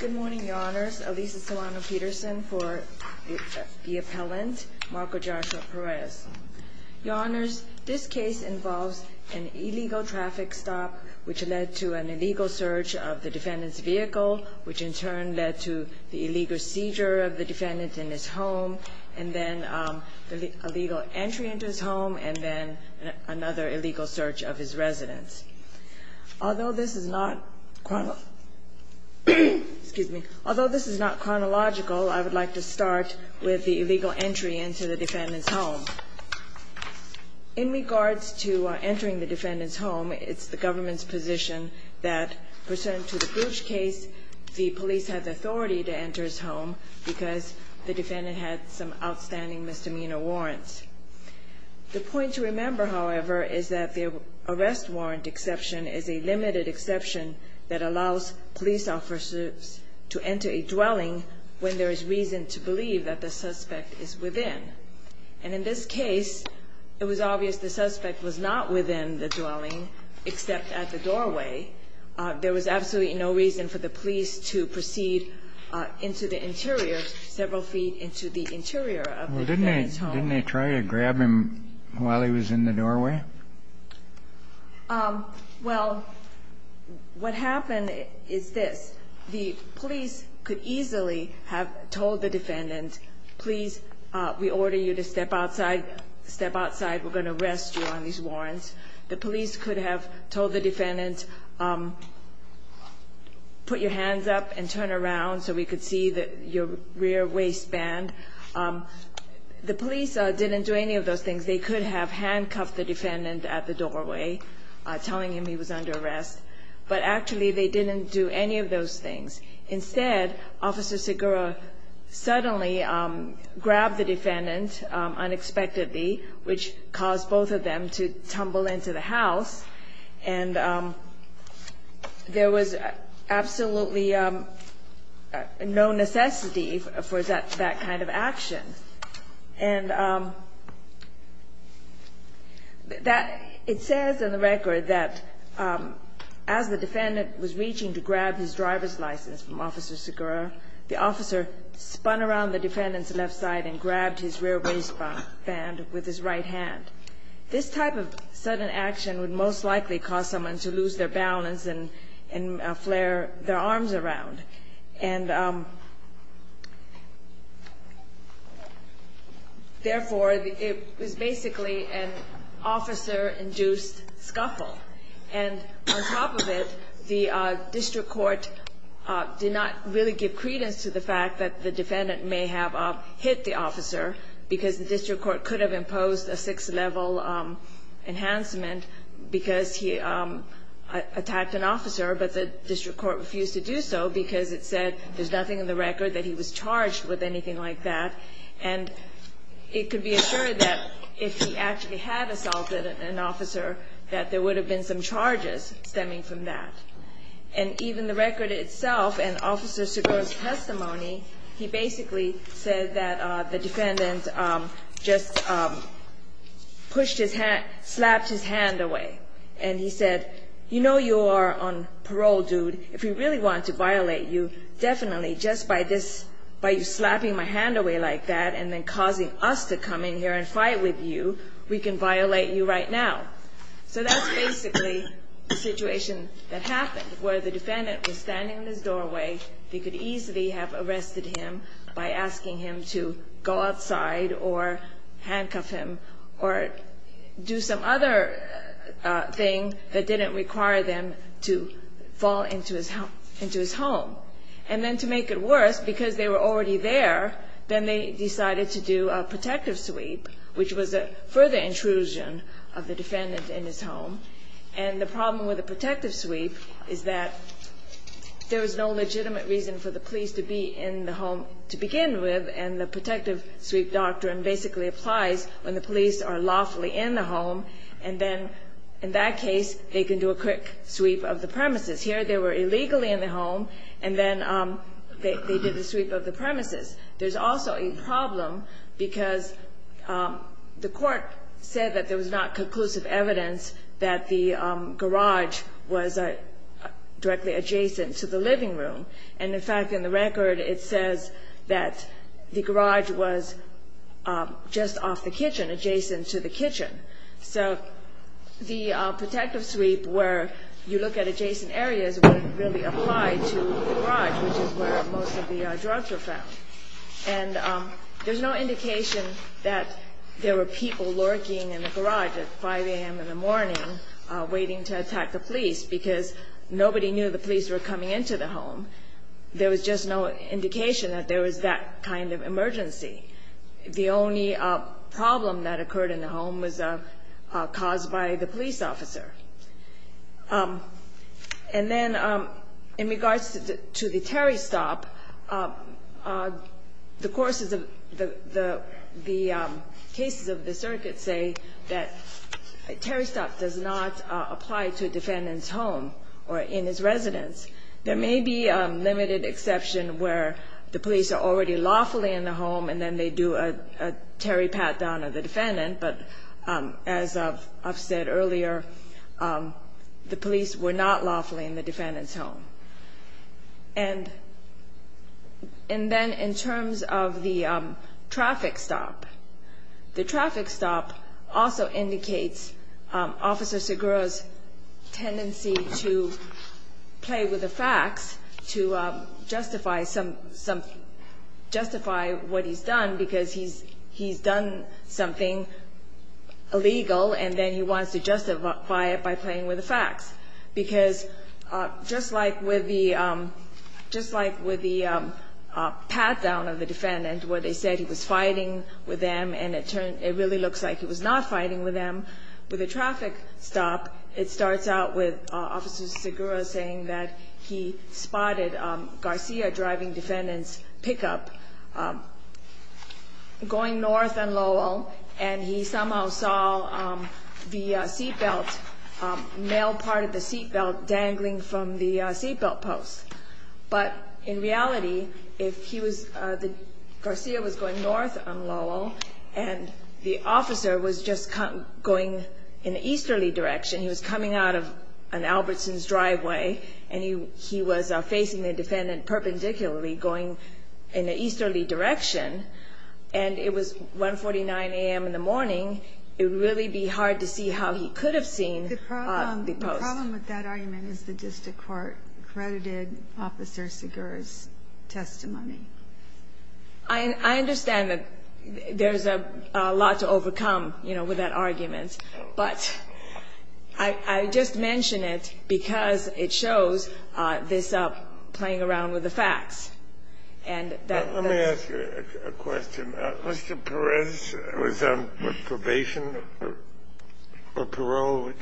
Good morning, Your Honors. Elisa Solano-Peterson for the appellant, Marco Joshua Perez. Your Honors, this case involves an illegal traffic stop, which led to an illegal search of the defendant's vehicle, which in turn led to the illegal seizure of the defendant in his home, and then the illegal entry into his home, and then another illegal search of his residence. Although this is not chronological, I would like to start with the illegal entry into the defendant's home. In regards to entering the defendant's home, it's the government's position that, pursuant to the Bouche case, the police had the authority to enter his home because the defendant had some outstanding misdemeanor warrants. The point to remember, however, is that the arrest warrant exception is a limited exception that allows police officers to enter a dwelling when there is reason to believe that the suspect is within. And in this case, it was obvious the suspect was not within the dwelling except at the doorway. There was absolutely no reason for the police to proceed into the interior, several feet into the interior of the defendant's home. Didn't they try to grab him while he was in the doorway? Well, what happened is this. The police could easily have told the defendant, please, we order you to step outside. Step outside. We're going to arrest you on these warrants. The police could have told the defendant, put your hands up and turn around so we could see your rear waistband. The police didn't do any of those things. They could have handcuffed the defendant at the doorway, telling him he was under arrest. But actually, they didn't do any of those things. Instead, Officer Segura suddenly grabbed the defendant unexpectedly, which caused both of them to tumble into the house. And there was absolutely no necessity for that kind of action. And it says in the record that as the defendant was reaching to grab his driver's license from Officer Segura, the officer spun around the defendant's left side and grabbed his rear waistband with his right hand. This type of sudden action would most likely cause someone to lose their balance and flare their arms around. And therefore, it was basically an officer-induced scuffle. And on top of it, the district court did not really give credence to the fact that the defendant may have hit the officer because the district court could have imposed a sixth-level enhancement because he attacked an officer. But the district court refused to do so because it said there's nothing in the record that he was charged with anything like that. And it could be assured that if he actually had assaulted an officer, that there would have been some charges stemming from that. And even the record itself and Officer Segura's testimony, he basically said that the defendant just slapped his hand away. And he said, you know you are on parole, dude. If we really want to violate you, definitely just by this, by you slapping my hand away like that and then causing us to come in here and fight with you, we can violate you right now. So that's basically the situation that happened where the defendant was standing in his doorway. They could easily have arrested him by asking him to go outside or handcuff him or do some other thing that didn't require them to fall into his home. And then to make it worse, because they were already there, then they decided to do a protective sweep, which was a further intrusion of the defendant in his home. And the problem with a protective sweep is that there is no legitimate reason for the police to be in the home to begin with. And the protective sweep doctrine basically applies when the police are lawfully in the home. And then in that case, they can do a quick sweep of the premises. Here they were illegally in the home, and then they did a sweep of the premises. There's also a problem because the court said that there was not conclusive evidence that the garage was directly adjacent to the living room. And, in fact, in the record, it says that the garage was just off the kitchen, adjacent to the kitchen. So the protective sweep where you look at adjacent areas wouldn't really apply to the garage, which is where most of the drugs were found. And there's no indication that there were people lurking in the garage at 5 a.m. in the morning waiting to attack the police because nobody knew the police were coming into the home. There was just no indication that there was that kind of emergency. The only problem that occurred in the home was caused by the police officer. And then in regards to the Terry stop, the courses of the cases of the circuit say that Terry stop does not apply to a defendant's home or in his residence. There may be a limited exception where the police are already lawfully in the home, and then they do a Terry pat down of the defendant. But as I've said earlier, the police were not lawfully in the defendant's home. And then in terms of the traffic stop, the traffic stop also indicates Officer Segura's tendency to play with the facts to justify what he's done because he's done something illegal, and then he wants to justify it by playing with the facts. Because just like with the pat down of the defendant where they said he was fighting with them and it really looks like he was not fighting with them, with the traffic stop, it starts out with Officer Segura saying that he spotted Garcia driving defendant's pickup going north on Lowell and he somehow saw the seatbelt, male part of the seatbelt dangling from the seatbelt post. But in reality, if Garcia was going north on Lowell and the officer was just going in the easterly direction, he was coming out of an Albertson's driveway and he was facing the defendant perpendicularly going in the easterly direction and it was 149 a.m. in the morning, it would really be hard to see how he could have seen the post. The problem with that argument is the district court credited Officer Segura's testimony. I understand that there's a lot to overcome, you know, with that argument, but I just mention it because it shows this playing around with the facts. Let me ask you a question. Mr. Perez was on probation or parole?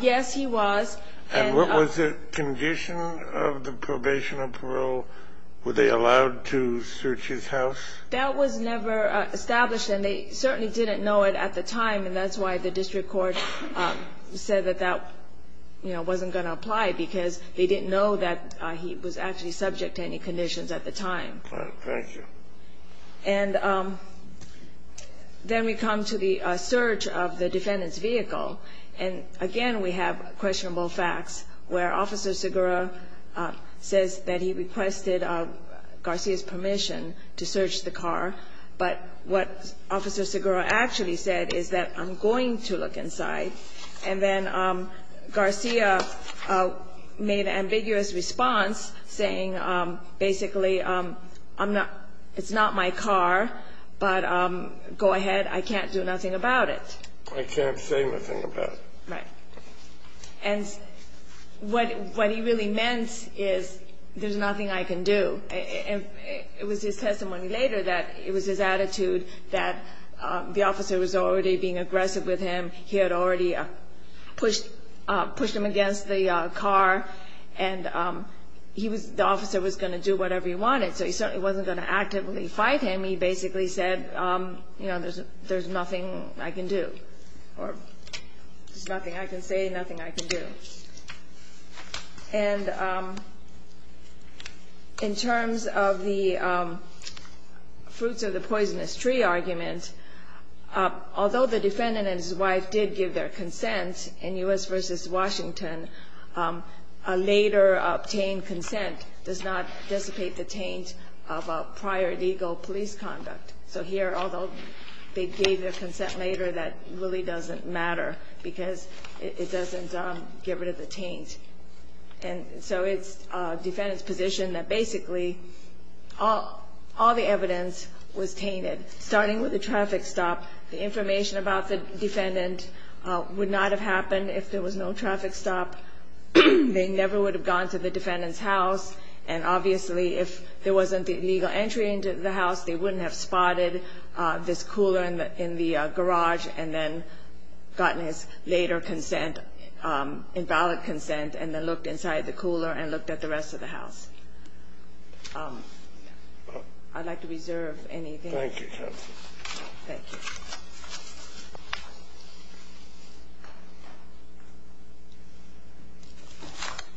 Yes, he was. And what was the condition of the probation or parole? Were they allowed to search his house? That was never established and they certainly didn't know it at the time and that's why the district court said that that wasn't going to apply because they didn't know that he was actually subject to any conditions at the time. Thank you. And then we come to the search of the defendant's vehicle and again we have questionable facts where Officer Segura says that he requested Garcia's permission to search the car, but what Officer Segura actually said is that I'm going to look inside and then Garcia made an ambiguous response saying basically it's not my car, but go ahead, I can't do nothing about it. I can't say nothing about it. Right. And what he really meant is there's nothing I can do. It was his testimony later that it was his attitude that the officer was already being aggressive with him, he had already pushed him against the car and the officer was going to do whatever he wanted so he certainly wasn't going to actively fight him, he basically said there's nothing I can do or there's nothing I can say, nothing I can do. And in terms of the fruits of the poisonous tree argument, although the defendant and his wife did give their consent in U.S. v. Washington, a later obtained consent does not dissipate the taint of a prior legal police conduct. So here, although they gave their consent later, that really doesn't matter because it doesn't get rid of the taint. And so it's the defendant's position that basically all the evidence was tainted, starting with the traffic stop, the information about the defendant would not have happened if there was no traffic stop, they never would have gone to the defendant's house, and obviously if there wasn't the legal entry into the house, they wouldn't have spotted this cooler in the garage and then gotten his later consent, invalid consent, and then looked inside the cooler and looked at the rest of the house. I'd like to reserve anything. Thank you, counsel. Thank you.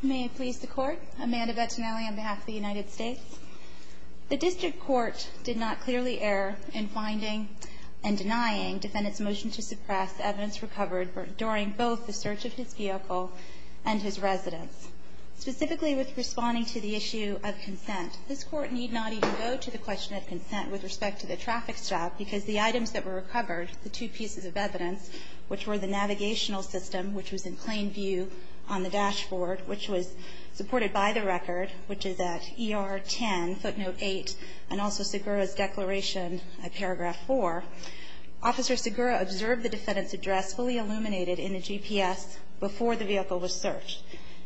May it please the Court. Amanda Bettinelli on behalf of the United States. The district court did not clearly err in finding and denying defendant's motion to suppress evidence recovered during both the search of his vehicle and his residence. Specifically with responding to the issue of consent, this Court need not even go to the question of consent with respect to the traffic stop because the items that were recovered, the two pieces of evidence, which were the navigational system, which was in plain view on the dashboard, which was supported by the record, which is at ER 10, footnote 8, and also Segura's declaration at paragraph 4. Officer Segura observed the defendant's address fully illuminated in the GPS before the vehicle was searched.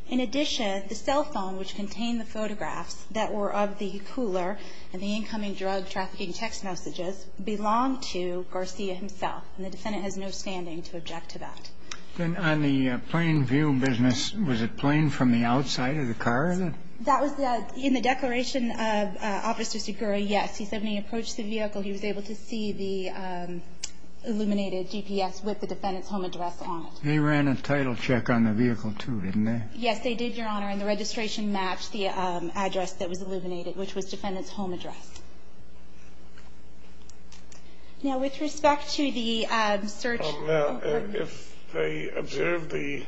In addition, the cell phone, which contained the photographs that were of the cooler and the incoming drug trafficking text messages, belonged to Garcia himself, and the defendant has no standing to object to that. Then on the plain view business, was it plain from the outside of the car? That was in the declaration of Officer Segura, yes. He said when he approached the vehicle, he was able to see the illuminated GPS with the defendant's home address on it. They ran a title check on the vehicle too, didn't they? Yes, they did, Your Honor, and the registration matched the address that was illuminated, which was defendant's home address. Now, with respect to the search. Now, if they observed the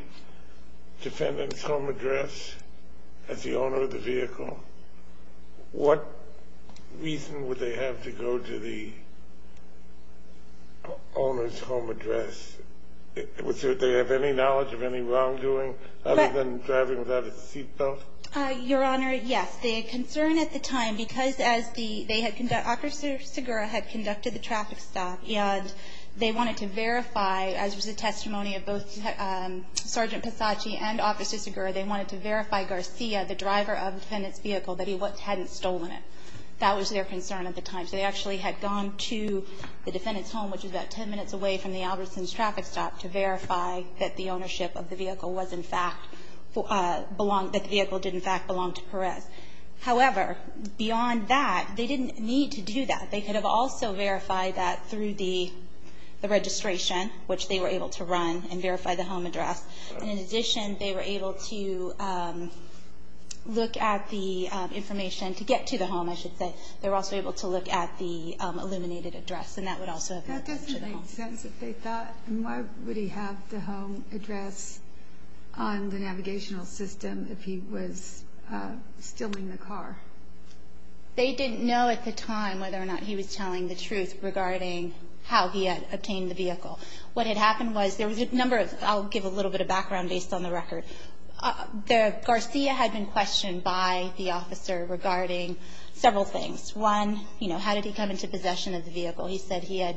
defendant's home address as the owner of the vehicle, what reason would they have to go to the owner's home address? Would they have any knowledge of any wrongdoing other than driving without a seat belt? Your Honor, yes. The concern at the time, because as the they had conducted, Officer Segura had conducted the traffic stop, and they wanted to verify, as was the testimony of both Sergeant Pisacci and Officer Segura, they wanted to verify Garcia, the driver of the defendant's vehicle, that he hadn't stolen it. That was their concern at the time. So they actually had gone to the defendant's home, which was about 10 minutes away from the Albertson's traffic stop, to verify that the vehicle did in fact belong to Perez. However, beyond that, they didn't need to do that. They could have also verified that through the registration, which they were able to run and verify the home address. And in addition, they were able to look at the information to get to the home, I should say. They were also able to look at the illuminated address, and that would also have led them to the home. That doesn't make sense. They thought, why would he have the home address on the navigational system if he was stealing the car? They didn't know at the time whether or not he was telling the truth regarding how he had obtained the vehicle. What had happened was there was a number of, I'll give a little bit of background based on the record. Garcia had been questioned by the officer regarding several things. One, how did he come into possession of the vehicle? He said he had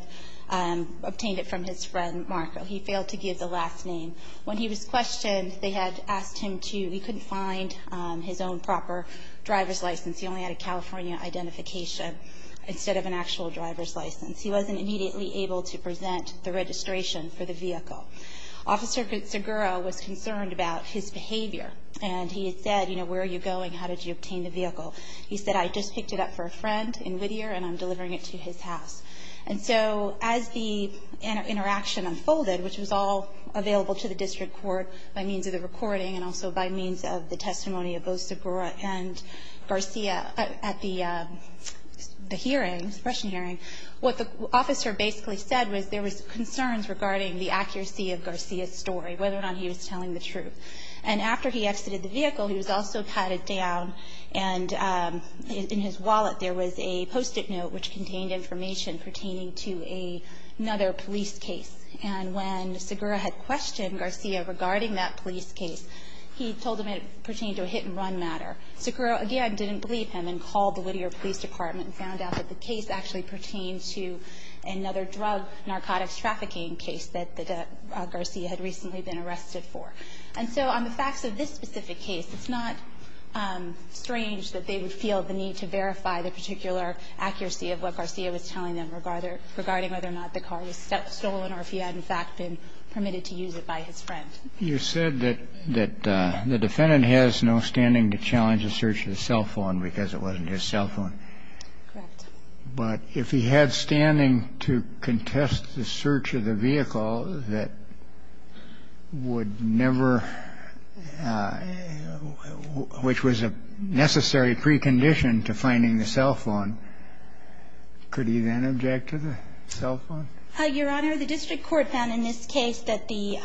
obtained it from his friend, Marco. He failed to give the last name. When he was questioned, they had asked him to. He couldn't find his own proper driver's license. He only had a California identification instead of an actual driver's license. He wasn't immediately able to present the registration for the vehicle. Officer Segura was concerned about his behavior, and he had said, you know, where are you going? How did you obtain the vehicle? He said, I just picked it up for a friend in Whittier, and I'm delivering it to his house. And so as the interaction unfolded, which was all available to the district court by means of the recording and also by means of the testimony of both Segura and Garcia at the hearing, suppression hearing, what the officer basically said was there was concerns regarding the accuracy of Garcia's story, whether or not he was telling the truth. And after he exited the vehicle, he was also patted down, and in his wallet there was a Post-it note which contained information pertaining to another police case. And when Segura had questioned Garcia regarding that police case, he told him it pertained to a hit-and-run matter. Segura, again, didn't believe him and called the Whittier Police Department and found out that the case actually pertained to another drug narcotics trafficking case that Garcia had recently been arrested for. And so on the facts of this specific case, it's not strange that they would feel the need to verify the particular accuracy of what Garcia was telling them regarding whether or not the car was stolen or if he had, in fact, been permitted to use it by his friend. You said that the defendant has no standing to challenge the search of the cell phone because it wasn't his cell phone. Correct. But if he had standing to contest the search of the vehicle that would never – which was a necessary precondition to finding the cell phone, could he then object to the cell phone? Your Honor, the district court found in this case that the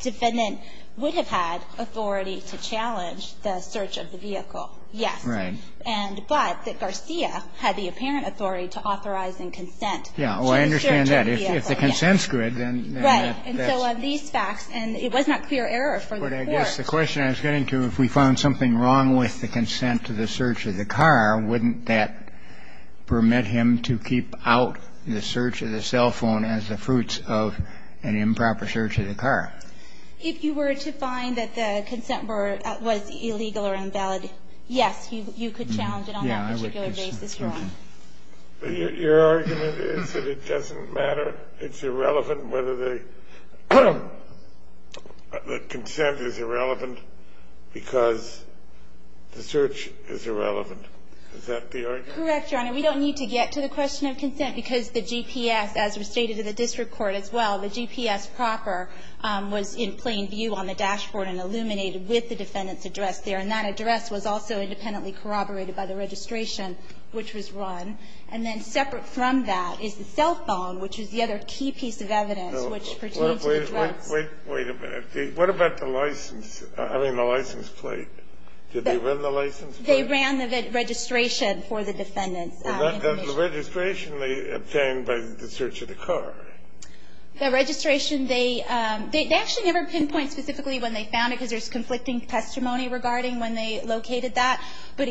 defendant would have had authority to challenge the search of the vehicle, yes. Right. And – but that Garcia had the apparent authority to authorize and consent to the search of the vehicle, yes. Yeah. Well, I understand that. If the consent's good, then that's – Right. And so on these facts, and it was not clear error for the court. But I guess the question I was getting to, if we found something wrong with the consent to the search of the car, wouldn't that permit him to keep out the search of the cell phone as the fruits of an improper search of the car? If you were to find that the consent was illegal or invalid, yes, you could challenge it on that particular basis, Your Honor. Your argument is that it doesn't matter. It's irrelevant whether the consent is irrelevant because the search is irrelevant. Is that the argument? Correct, Your Honor. We don't need to get to the question of consent because the GPS, as was stated in the district court as well, the GPS proper was in plain view on the dashboard and illuminated with the defendant's address there. And that address was also independently corroborated by the registration, which was run. And then separate from that is the cell phone, which is the other key piece of evidence, which pertains to the drugs. Wait a minute. What about the license? I mean, the license plate? Did they run the license plate? They ran the registration for the defendant's information. But that's the registration they obtained by the search of the car. The registration, they actually never pinpointed specifically when they found it because there's conflicting testimony regarding when they located that. But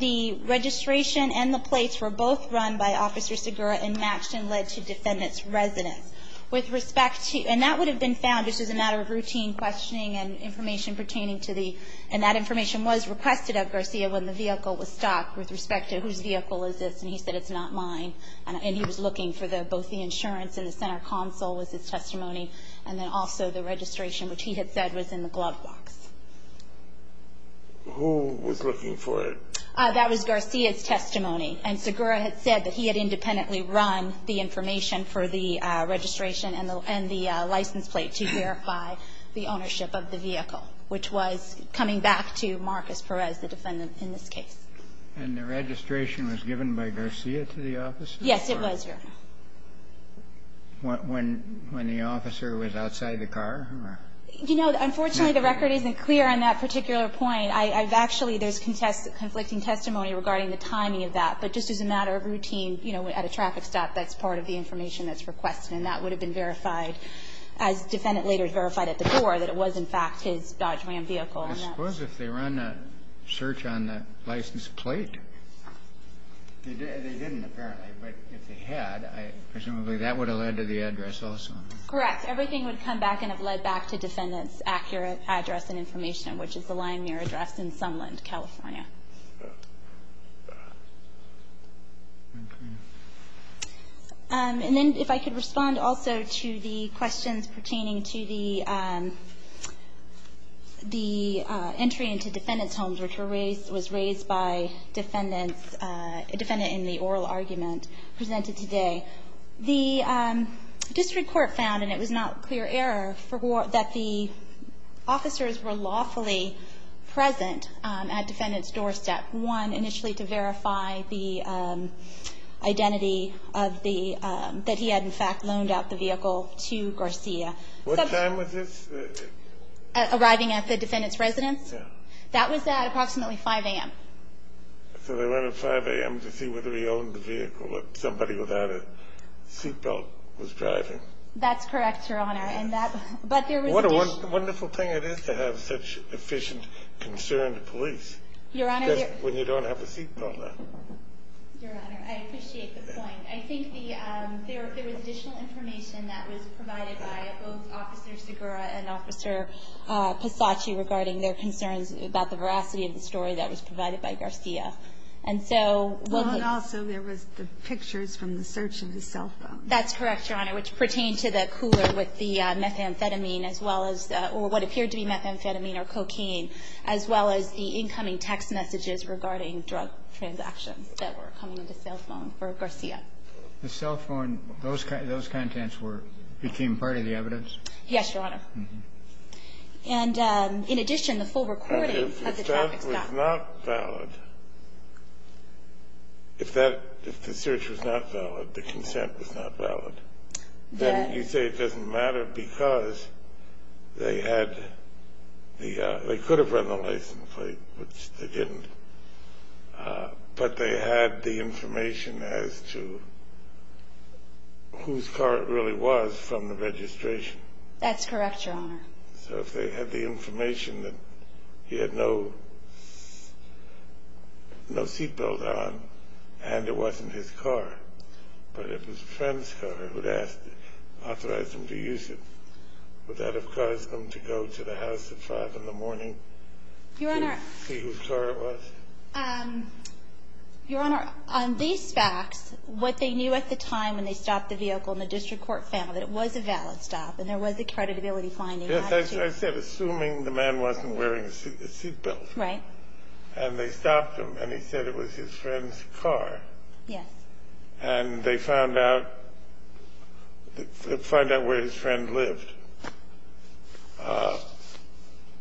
the registration and the plates were both run by Officer Segura and matched and led to defendant's residence. And that would have been found just as a matter of routine questioning and information pertaining to the, and that information was requested of Garcia when the vehicle was stocked with respect to whose vehicle is this. And he said, it's not mine. And he was looking for both the insurance and the center console was his testimony, and then also the registration, which he had said was in the glove box. Who was looking for it? That was Garcia's testimony. And Segura had said that he had independently run the information for the registration and the license plate to verify the ownership of the vehicle, which was coming back to Marcus Perez, the defendant in this case. And the registration was given by Garcia to the officers? Yes, it was, Your Honor. When the officer was outside the car? You know, unfortunately, the record isn't clear on that particular point. I've actually, there's conflicting testimony regarding the timing of that. But just as a matter of routine, you know, at a traffic stop, that's part of the information that's requested, and that would have been verified as defendant later verified at the door that it was, in fact, his Dodge Ram vehicle. I suppose if they ran a search on the license plate, they didn't apparently. But if they had, presumably that would have led to the address also. Correct. Everything would come back and have led back to defendant's accurate address and information, which is the line near address in Sunland, California. And then if I could respond also to the questions pertaining to the entry into defendant's homes, which was raised by a defendant in the oral argument presented today. The district court found, and it was not clear error, that the officers were lawfully present at defendant's doorstep, one, initially to verify the identity of the, that he had, in fact, loaned out the vehicle to Garcia. What time was this? Arriving at the defendant's residence? Yeah. That was at approximately 5 a.m. So they went at 5 a.m. to see whether he owned the vehicle, but somebody without a seatbelt was driving. That's correct, Your Honor. What a wonderful thing it is to have such efficient, concerned police. Your Honor. Especially when you don't have a seatbelt on. Your Honor, I appreciate the point. I think there was additional information that was provided by both Officer Segura and Officer Pisacci regarding their concerns about the veracity of the story that was provided by Garcia. And so, well, he was. Well, and also there was the pictures from the search of his cell phone. That's correct, Your Honor, which pertained to the cooler with the methamphetamine as well as, or what appeared to be methamphetamine or cocaine, as well as the incoming text messages regarding drug transactions that were coming into cell phone for Garcia. The cell phone, those contents were, became part of the evidence? Yes, Your Honor. And, in addition, the full recording of the traffic stop. If that was not valid, if the search was not valid, the consent was not valid, then you say it doesn't matter because they had the, they could have run the license plate, which they didn't, but they had the information as to whose car it really was from the registration. That's correct, Your Honor. So if they had the information that he had no seat belt on and it wasn't his car, but it was a friend's car who had asked, authorized him to use it, would that have caused them to go to the house at 5 in the morning? Your Honor. See whose car it was? Your Honor, on these facts, what they knew at the time when they stopped the vehicle in the district court family, that it was a valid stop and there was a creditability finding attached to it. Yes, I said assuming the man wasn't wearing a seat belt. Right. And they stopped him and he said it was his friend's car. Yes. And they found out, find out where his friend lived.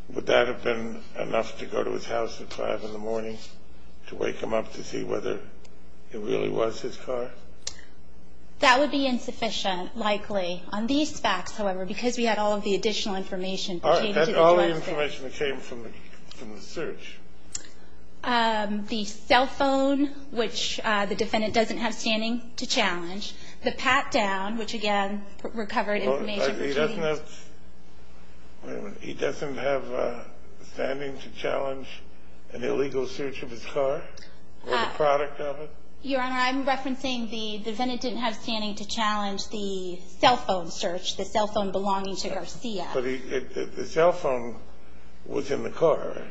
Would that have been enough to go to his house at 5 in the morning to wake him up to see whether it really was his car? That would be insufficient, likely. On these facts, however, because we had all of the additional information. All the information that came from the search. The cell phone, which the defendant doesn't have standing to challenge, the pat-down, which, again, recovered information. He doesn't have standing to challenge an illegal search of his car or the product of it? Your Honor, I'm referencing the defendant didn't have standing to challenge the cell phone search, the cell phone belonging to Garcia. But the cell phone was in the car, right?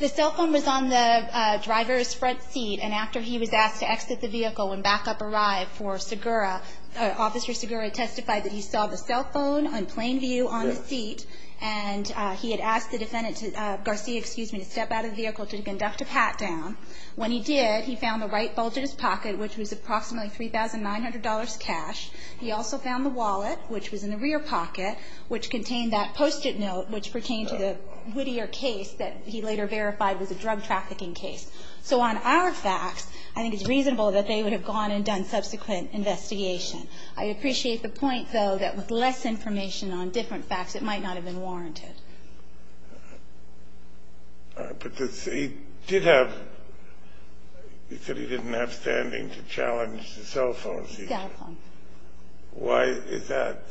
The cell phone was on the driver's front seat, and after he was asked to exit the vehicle when backup arrived for Segura, Officer Segura testified that he saw the cell phone on plain view on the seat, and he had asked the defendant, Garcia, excuse me, to step out of the vehicle to conduct a pat-down. When he did, he found the right bulge in his pocket, which was approximately $3,900 cash. He also found the wallet, which was in the rear pocket, which contained that post-it note which pertained to the Whittier case that he later verified was a drug trafficking case. So on our facts, I think it's reasonable that they would have gone and done subsequent investigation. I appreciate the point, though, that with less information on different facts, it might not have been warranted. But he did have – he said he didn't have standing to challenge the cell phone seizure. Cell phone. Why is that?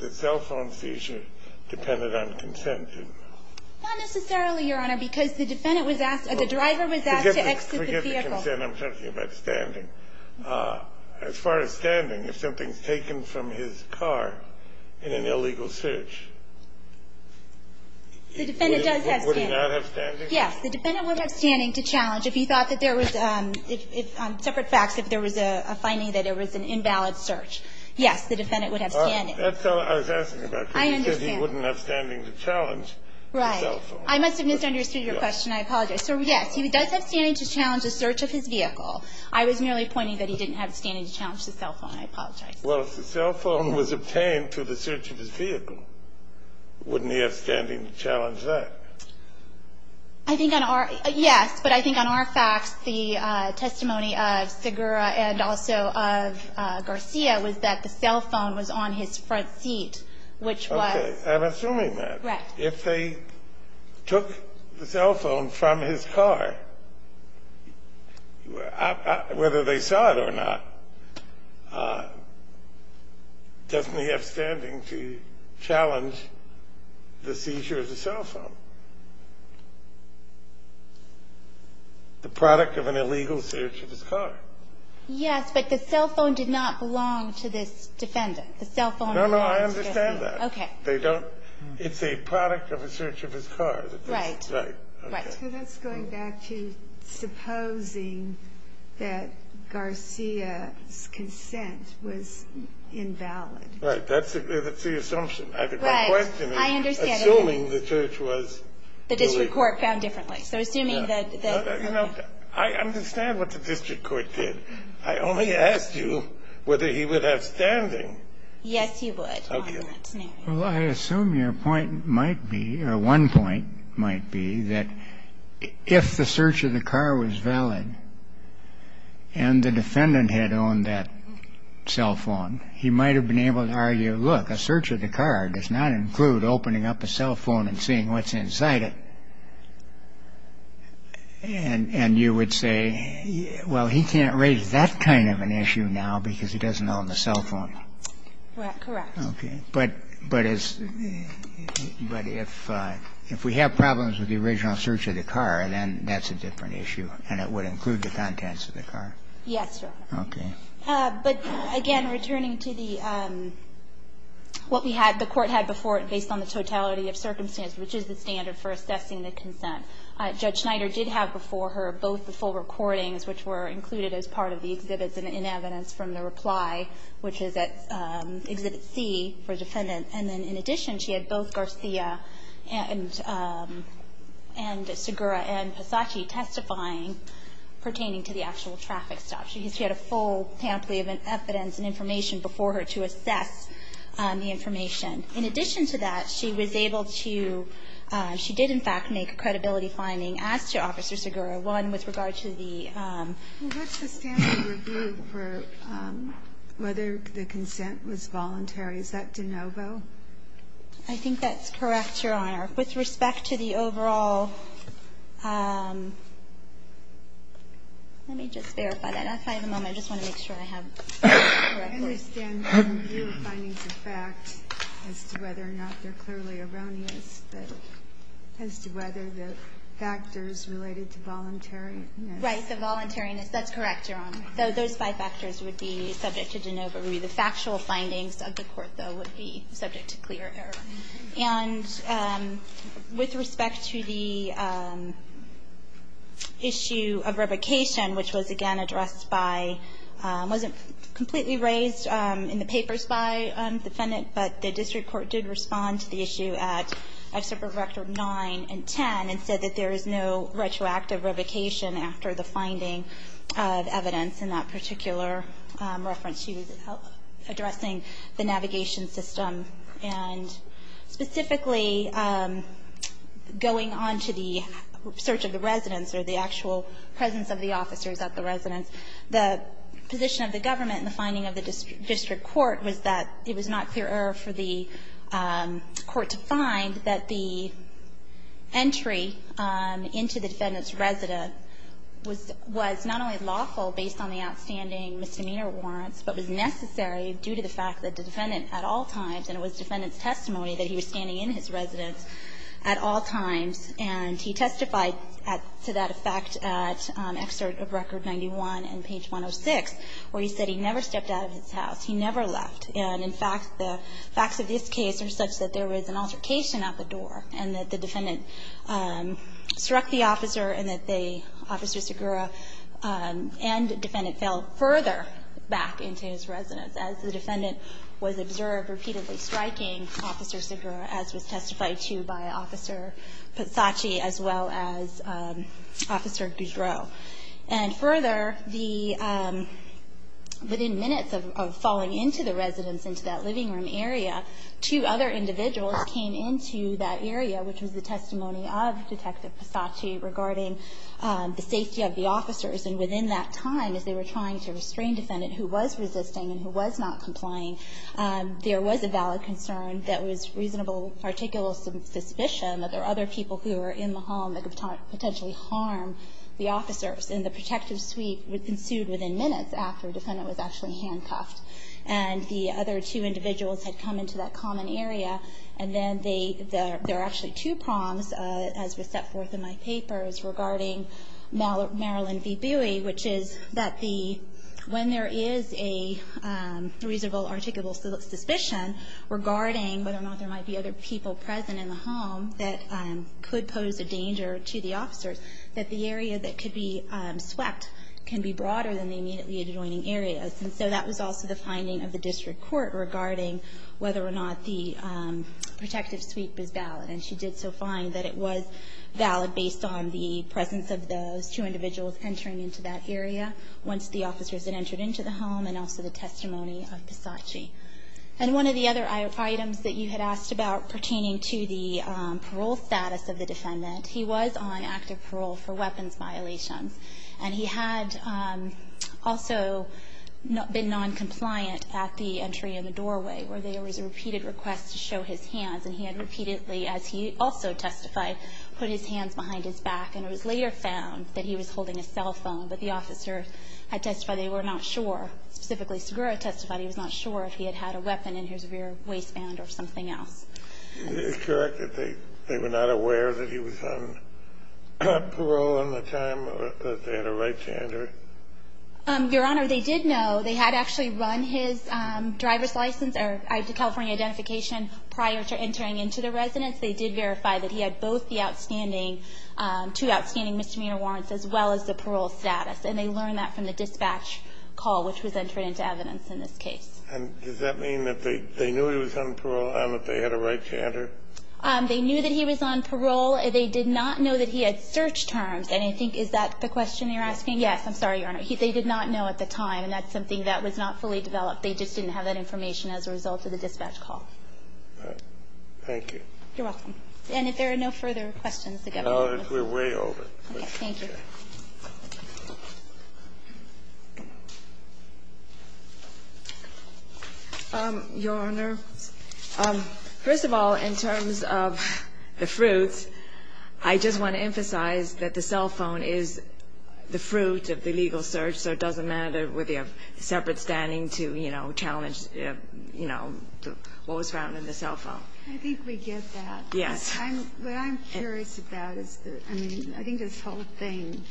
The cell phone seizure depended on consent, didn't it? Not necessarily, Your Honor, because the defendant was asked – the driver was asked to exit the vehicle. Forget the consent. I'm talking about standing. As far as standing, if something's taken from his car in an illegal search – The defendant does have standing. Would he not have standing? Yes. The defendant would have standing to challenge if he thought that there was – separate facts, if there was a finding that there was an invalid search. Yes, the defendant would have standing. That's all I was asking about. I understand. He wouldn't have standing to challenge the cell phone. Right. I must have misunderstood your question. I apologize. So, yes, he does have standing to challenge the search of his vehicle. I was merely pointing that he didn't have standing to challenge the cell phone. I apologize. Well, if the cell phone was obtained through the search of his vehicle, wouldn't he have standing to challenge that? I think on our – yes. But I think on our facts, the testimony of Segura and also of Garcia was that the cell phone was on his front seat, which was – I'm assuming that. Right. If they took the cell phone from his car, whether they saw it or not, doesn't he have standing to challenge the seizure of the cell phone, the product of an illegal search of his car? Yes, but the cell phone did not belong to this defendant. The cell phone belongs to him. No, no, I understand that. Okay. They don't – it's a product of a search of his car. Right. Right. Right. So that's going back to supposing that Garcia's consent was invalid. Right. That's the assumption. Right. I understand that. Assuming the church was – The district court found differently. So assuming that – You know, I understand what the district court did. I only asked you whether he would have standing. Yes, he would. Well, I assume your point might be – or one point might be that if the search of the car was valid and the defendant had owned that cell phone, he might have been able to argue, look, a search of the car does not include opening up a cell phone and seeing what's inside it. And you would say, well, he can't raise that kind of an issue now because he doesn't own the cell phone. Correct. Okay. But as – but if we have problems with the original search of the car, then that's a different issue and it would include the contents of the car. Yes, Your Honor. Okay. But, again, returning to the – what we had – the court had before it based on the totality of circumstance, which is the standard for assessing the consent. Judge Schneider did have before her both the full recordings, which were included as part of the exhibits and in evidence from the reply, which is at Exhibit C for the defendant. And then, in addition, she had both Garcia and Segura and Pisacci testifying pertaining to the actual traffic stop. She had a full pamphlet of evidence and information before her to assess the information. In addition to that, she was able to – she did, in fact, make a credibility finding as to Officer Segura, one with regard to the – Well, what's the standard review for whether the consent was voluntary? Is that de novo? I think that's correct, Your Honor. With respect to the overall – let me just verify that. If I have a moment, I just want to make sure I have it correctly. I understand the review findings of fact as to whether or not they're clearly erroneous, as to whether the factors related to voluntariness. Right, the voluntariness. That's correct, Your Honor. So those five factors would be subject to de novo. The factual findings of the court, though, would be subject to clear error. And with respect to the issue of revocation, which was, again, addressed by – it wasn't completely raised in the papers by the defendant, but the district court did respond to the issue at Excerpt from Rector 9 and 10 and said that there is no retroactive revocation after the finding of evidence in that particular reference. She was addressing the navigation system and specifically going on to the search of the residence or the actual presence of the officers at the residence. The position of the government in the finding of the district court was that it was not clear error for the court to find that the entry into the defendant's residence was not only lawful based on the outstanding misdemeanor warrants, but was necessary due to the fact that the defendant at all times, and it was the defendant's testimony that he was standing in his residence at all times, and he testified to that effect at Excerpt of Record 91 and page 106, where he said he never stepped out of his house, he never left. And, in fact, the facts of this case are such that there was an altercation at the door and that the defendant struck the officer and that they, Officer Segura and the defendant, fell further back into his residence as the defendant was observed repeatedly striking Officer Segura, as was testified to by Officer Pisacci, as well as Officer Boudreau. And further, the, within minutes of falling into the residence, into that living room area, two other individuals came into that area, which was the testimony of Detective Pisacci regarding the safety of the officers. And within that time, as they were trying to restrain the defendant who was resisting and who was not complying, there was a valid concern that was reasonable articulable suspicion that there were other people who were in the home that could potentially harm the officers. And the protective suite ensued within minutes after the defendant was actually handcuffed. And the other two individuals had come into that common area, and then they, there were actually two prongs, as was set forth in my papers, regarding Marilyn V. Bowie, which is that the, when there is a reasonable articulable suspicion regarding whether or not there might be other people present in the home that could pose a danger to the officers, that the area that could be swept can be broader than the immediately adjoining areas. And so that was also the finding of the district court regarding whether or not the protective suite was valid. And she did so find that it was valid based on the presence of those two individuals entering into that area once the officers had entered into the home and also the testimony of Pisacci. And one of the other items that you had asked about pertaining to the parole status of the defendant, he was on active parole for weapons violations. And he had also been noncompliant at the entry in the doorway, where there was a repeated request to show his hands. And he had repeatedly, as he also testified, put his hands behind his back. And it was later found that he was holding a cell phone, but the officer had testified they were not sure. Specifically, Segura testified he was not sure if he had had a weapon in his rear waistband or something else. Is it correct that they were not aware that he was on parole in the time that they had a right to enter? Your Honor, they did know. They had actually run his driver's license or California identification prior to entering into the residence. They did verify that he had both the outstanding, two outstanding misdemeanor warrants as well as the parole status. And they learned that from the dispatch call, which was entered into evidence in this case. And does that mean that they knew he was on parole and that they had a right to enter? They knew that he was on parole. They did not know that he had search terms. And I think that's the question you're asking? Yes. I'm sorry, Your Honor. They did not know at the time, and that's something that was not fully developed. They just didn't have that information as a result of the dispatch call. All right. Thank you. You're welcome. And if there are no further questions, the Governor will close. No, we're way over. Okay. Thank you. Your Honor, first of all, in terms of the fruits, I just want to emphasize that the cell phone is the fruit of the legal search, so it doesn't matter whether you have separate standing to, you know, challenge, you know, what was found in the cell phone. I think we get that. Yes. What I'm curious about is that, I mean, I think this whole thing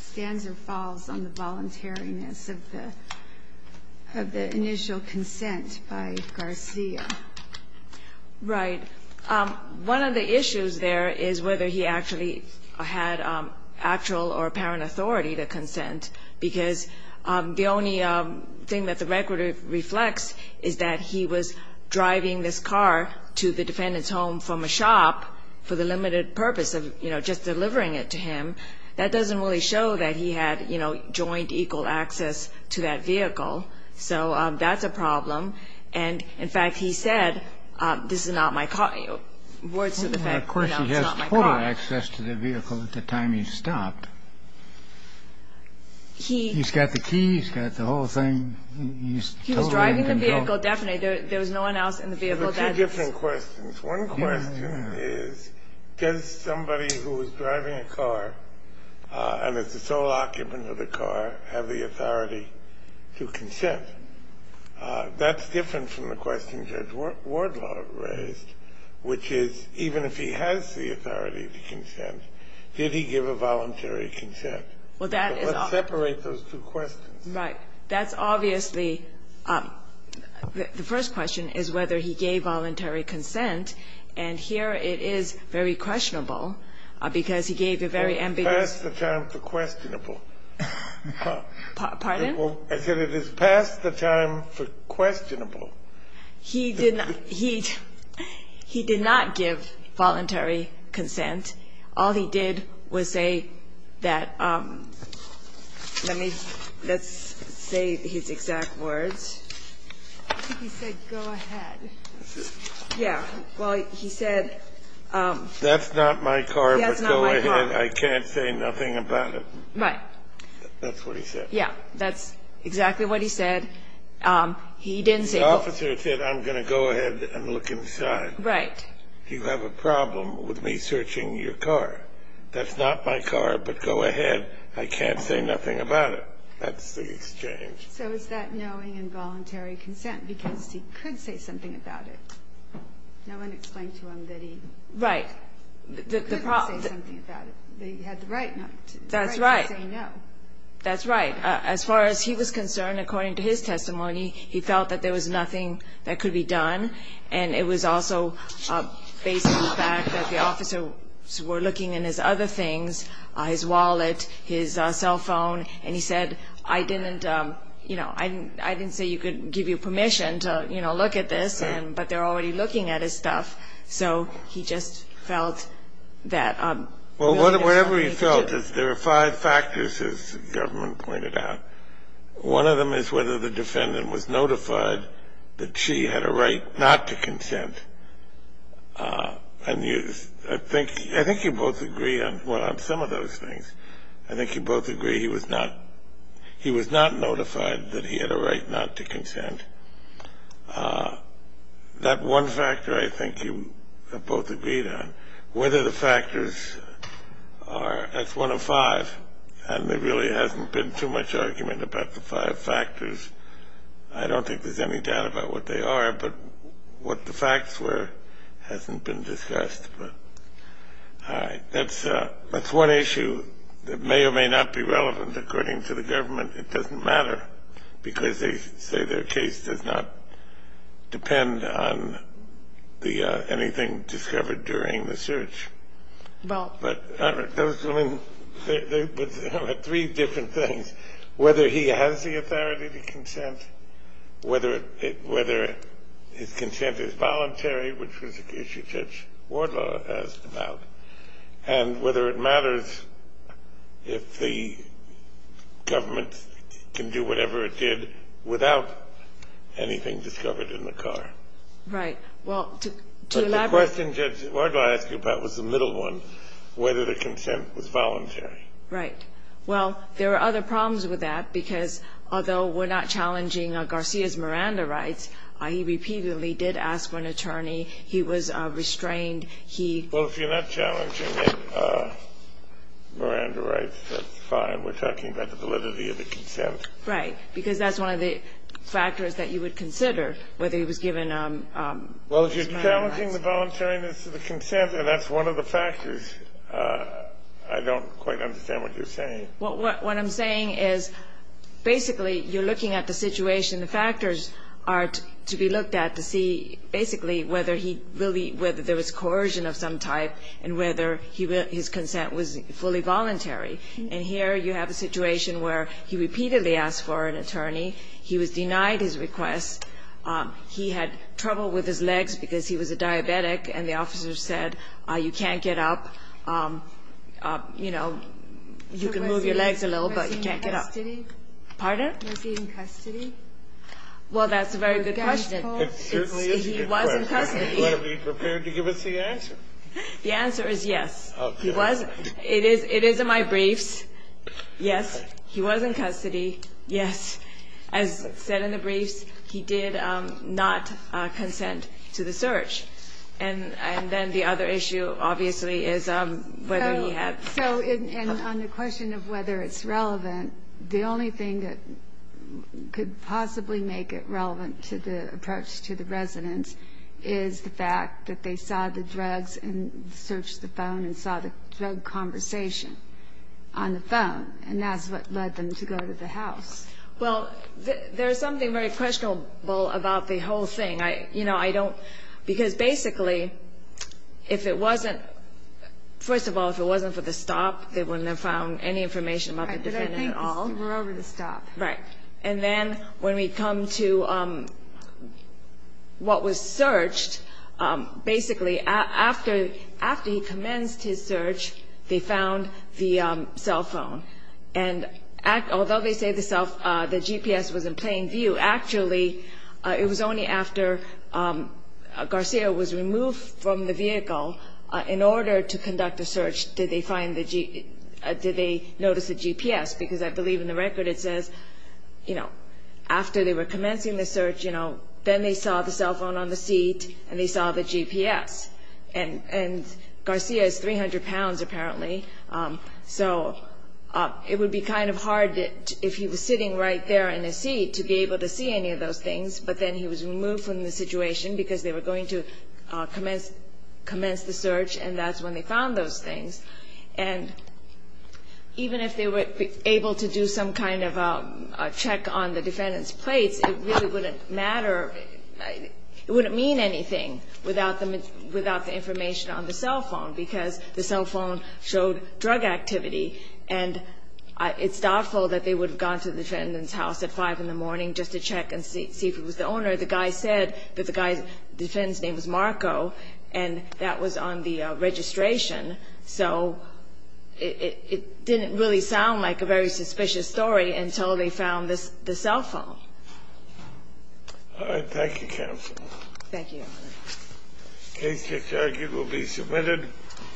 stands or falls on the voluntariness of the initial consent by Garcia. Right. One of the issues there is whether he actually had actual or apparent authority to consent, because the only thing that the record reflects is that he was driving this car to the defendant's home from a shop for the limited purpose of, you know, just delivering it to him. That doesn't really show that he had, you know, joint equal access to that vehicle. So that's a problem. And, in fact, he said, this is not my car. Words to the effect, you know, it's not my car. Of course, he has total access to the vehicle at the time he stopped. He's got the keys, got the whole thing. He's totally in control. The vehicle definitely. There was no one else in the vehicle. There were two different questions. One question is, does somebody who is driving a car and is the sole occupant of the car have the authority to consent? That's different from the question Judge Wardlaw raised, which is, even if he has the authority to consent, did he give a voluntary consent? Well, that is all. But let's separate those two questions. Right. That's obviously the first question is whether he gave voluntary consent. And here it is very questionable, because he gave a very ambiguous. It's past the time for questionable. Pardon? I said it is past the time for questionable. He did not give voluntary consent. All he did was say that let's say his exact words. I think he said, go ahead. Yeah. Well, he said. That's not my car, but go ahead. I can't say nothing about it. Right. That's what he said. Yeah. That's exactly what he said. He didn't say. The officer said, I'm going to go ahead and look inside. Right. You have a problem with me searching your car. That's not my car, but go ahead. I can't say nothing about it. That's the exchange. So is that knowing involuntary consent? Because he could say something about it. No one explained to him that he. Right. Could say something about it. He had the right not to say no. That's right. That's right. As far as he was concerned, according to his testimony, he felt that there was nothing that could be done. And it was also based on the fact that the officers were looking in his other things, his wallet, his cell phone, and he said, I didn't, you know, I didn't say you could give you permission to, you know, look at this, but they're already looking at his stuff. So he just felt that. Well, whatever he felt is there are five factors, as the government pointed out. One of them is whether the defendant was notified that she had a right not to consent. And I think you both agree on some of those things. I think you both agree he was not notified that he had a right not to consent. That one factor I think you both agreed on, whether the factors are, that's one of five, and there really hasn't been too much argument about the five factors. I don't think there's any doubt about what they are, but what the facts were hasn't been discussed. All right. That's one issue that may or may not be relevant, according to the government. It doesn't matter, because they say their case does not depend on anything discovered during the search. But those women, there were three different things, whether he has the authority to consent, whether his consent is voluntary, which was an issue Judge Wardlaw asked about, and whether it matters if the government can do whatever it did without anything discovered in the car. Right. Well, to elaborate. But the question Judge Wardlaw asked you about was the middle one, whether the consent was voluntary. Right. Well, there are other problems with that, because although we're not challenging Garcia's Miranda rights, he repeatedly did ask for an attorney. He was restrained. He was restrained. Well, if you're not challenging Miranda rights, that's fine. We're talking about the validity of the consent. Right. Because that's one of the factors that you would consider, whether he was given his Miranda rights. Well, if you're challenging the voluntariness of the consent, and that's one of the factors, I don't quite understand what you're saying. What I'm saying is, basically, you're looking at the situation. The factors are to be looked at to see, basically, whether he really, whether there was coercion of some type and whether his consent was fully voluntary. And here you have a situation where he repeatedly asked for an attorney. He was denied his request. He had trouble with his legs because he was a diabetic, and the officer said, you can't get up. You know, you can move your legs a little, but you can't get up. Was he in custody? Pardon? Was he in custody? Well, that's a very good question. It certainly is a good question. He was in custody. But are we prepared to give us the answer? The answer is yes. Okay. It is in my briefs. Yes, he was in custody. Yes. As said in the briefs, he did not consent to the search. And then the other issue, obviously, is whether he had. So on the question of whether it's relevant, the only thing that could possibly make it relevant to the approach to the residents is the fact that they saw the drugs and searched the phone and saw the drug conversation on the phone. And that's what led them to go to the house. Well, there's something very questionable about the whole thing. You know, I don't. Because basically, if it wasn't, first of all, if it wasn't for the stop, they wouldn't have found any information about the defendant at all. Right. But I think we're over the stop. Right. And then when we come to what was searched, basically after he commenced his search, they found the cell phone. And although they say the GPS was in plain view, actually it was only after Garcia was removed from the vehicle, in order to conduct the search, did they find the GPS, notice the GPS, because I believe in the record it says, you know, after they were commencing the search, you know, then they saw the cell phone on the seat and they saw the GPS. And Garcia is 300 pounds apparently, so it would be kind of hard if he was sitting right there in his seat to be able to see any of those things. But then he was removed from the situation because they were going to commence the search, and that's when they found those things. And even if they were able to do some kind of a check on the defendant's plates, it really wouldn't matter. It wouldn't mean anything without the information on the cell phone, because the cell phone showed drug activity, and it's doubtful that they would have gone to the defendant's house at 5 in the morning just to check and see if it was the owner. The guy said that the defendant's name was Marco, and that was on the registration. So it didn't really sound like a very suspicious story until they found the cell phone. All right. Thank you, counsel. Thank you, Your Honor. The case is arguably submitted.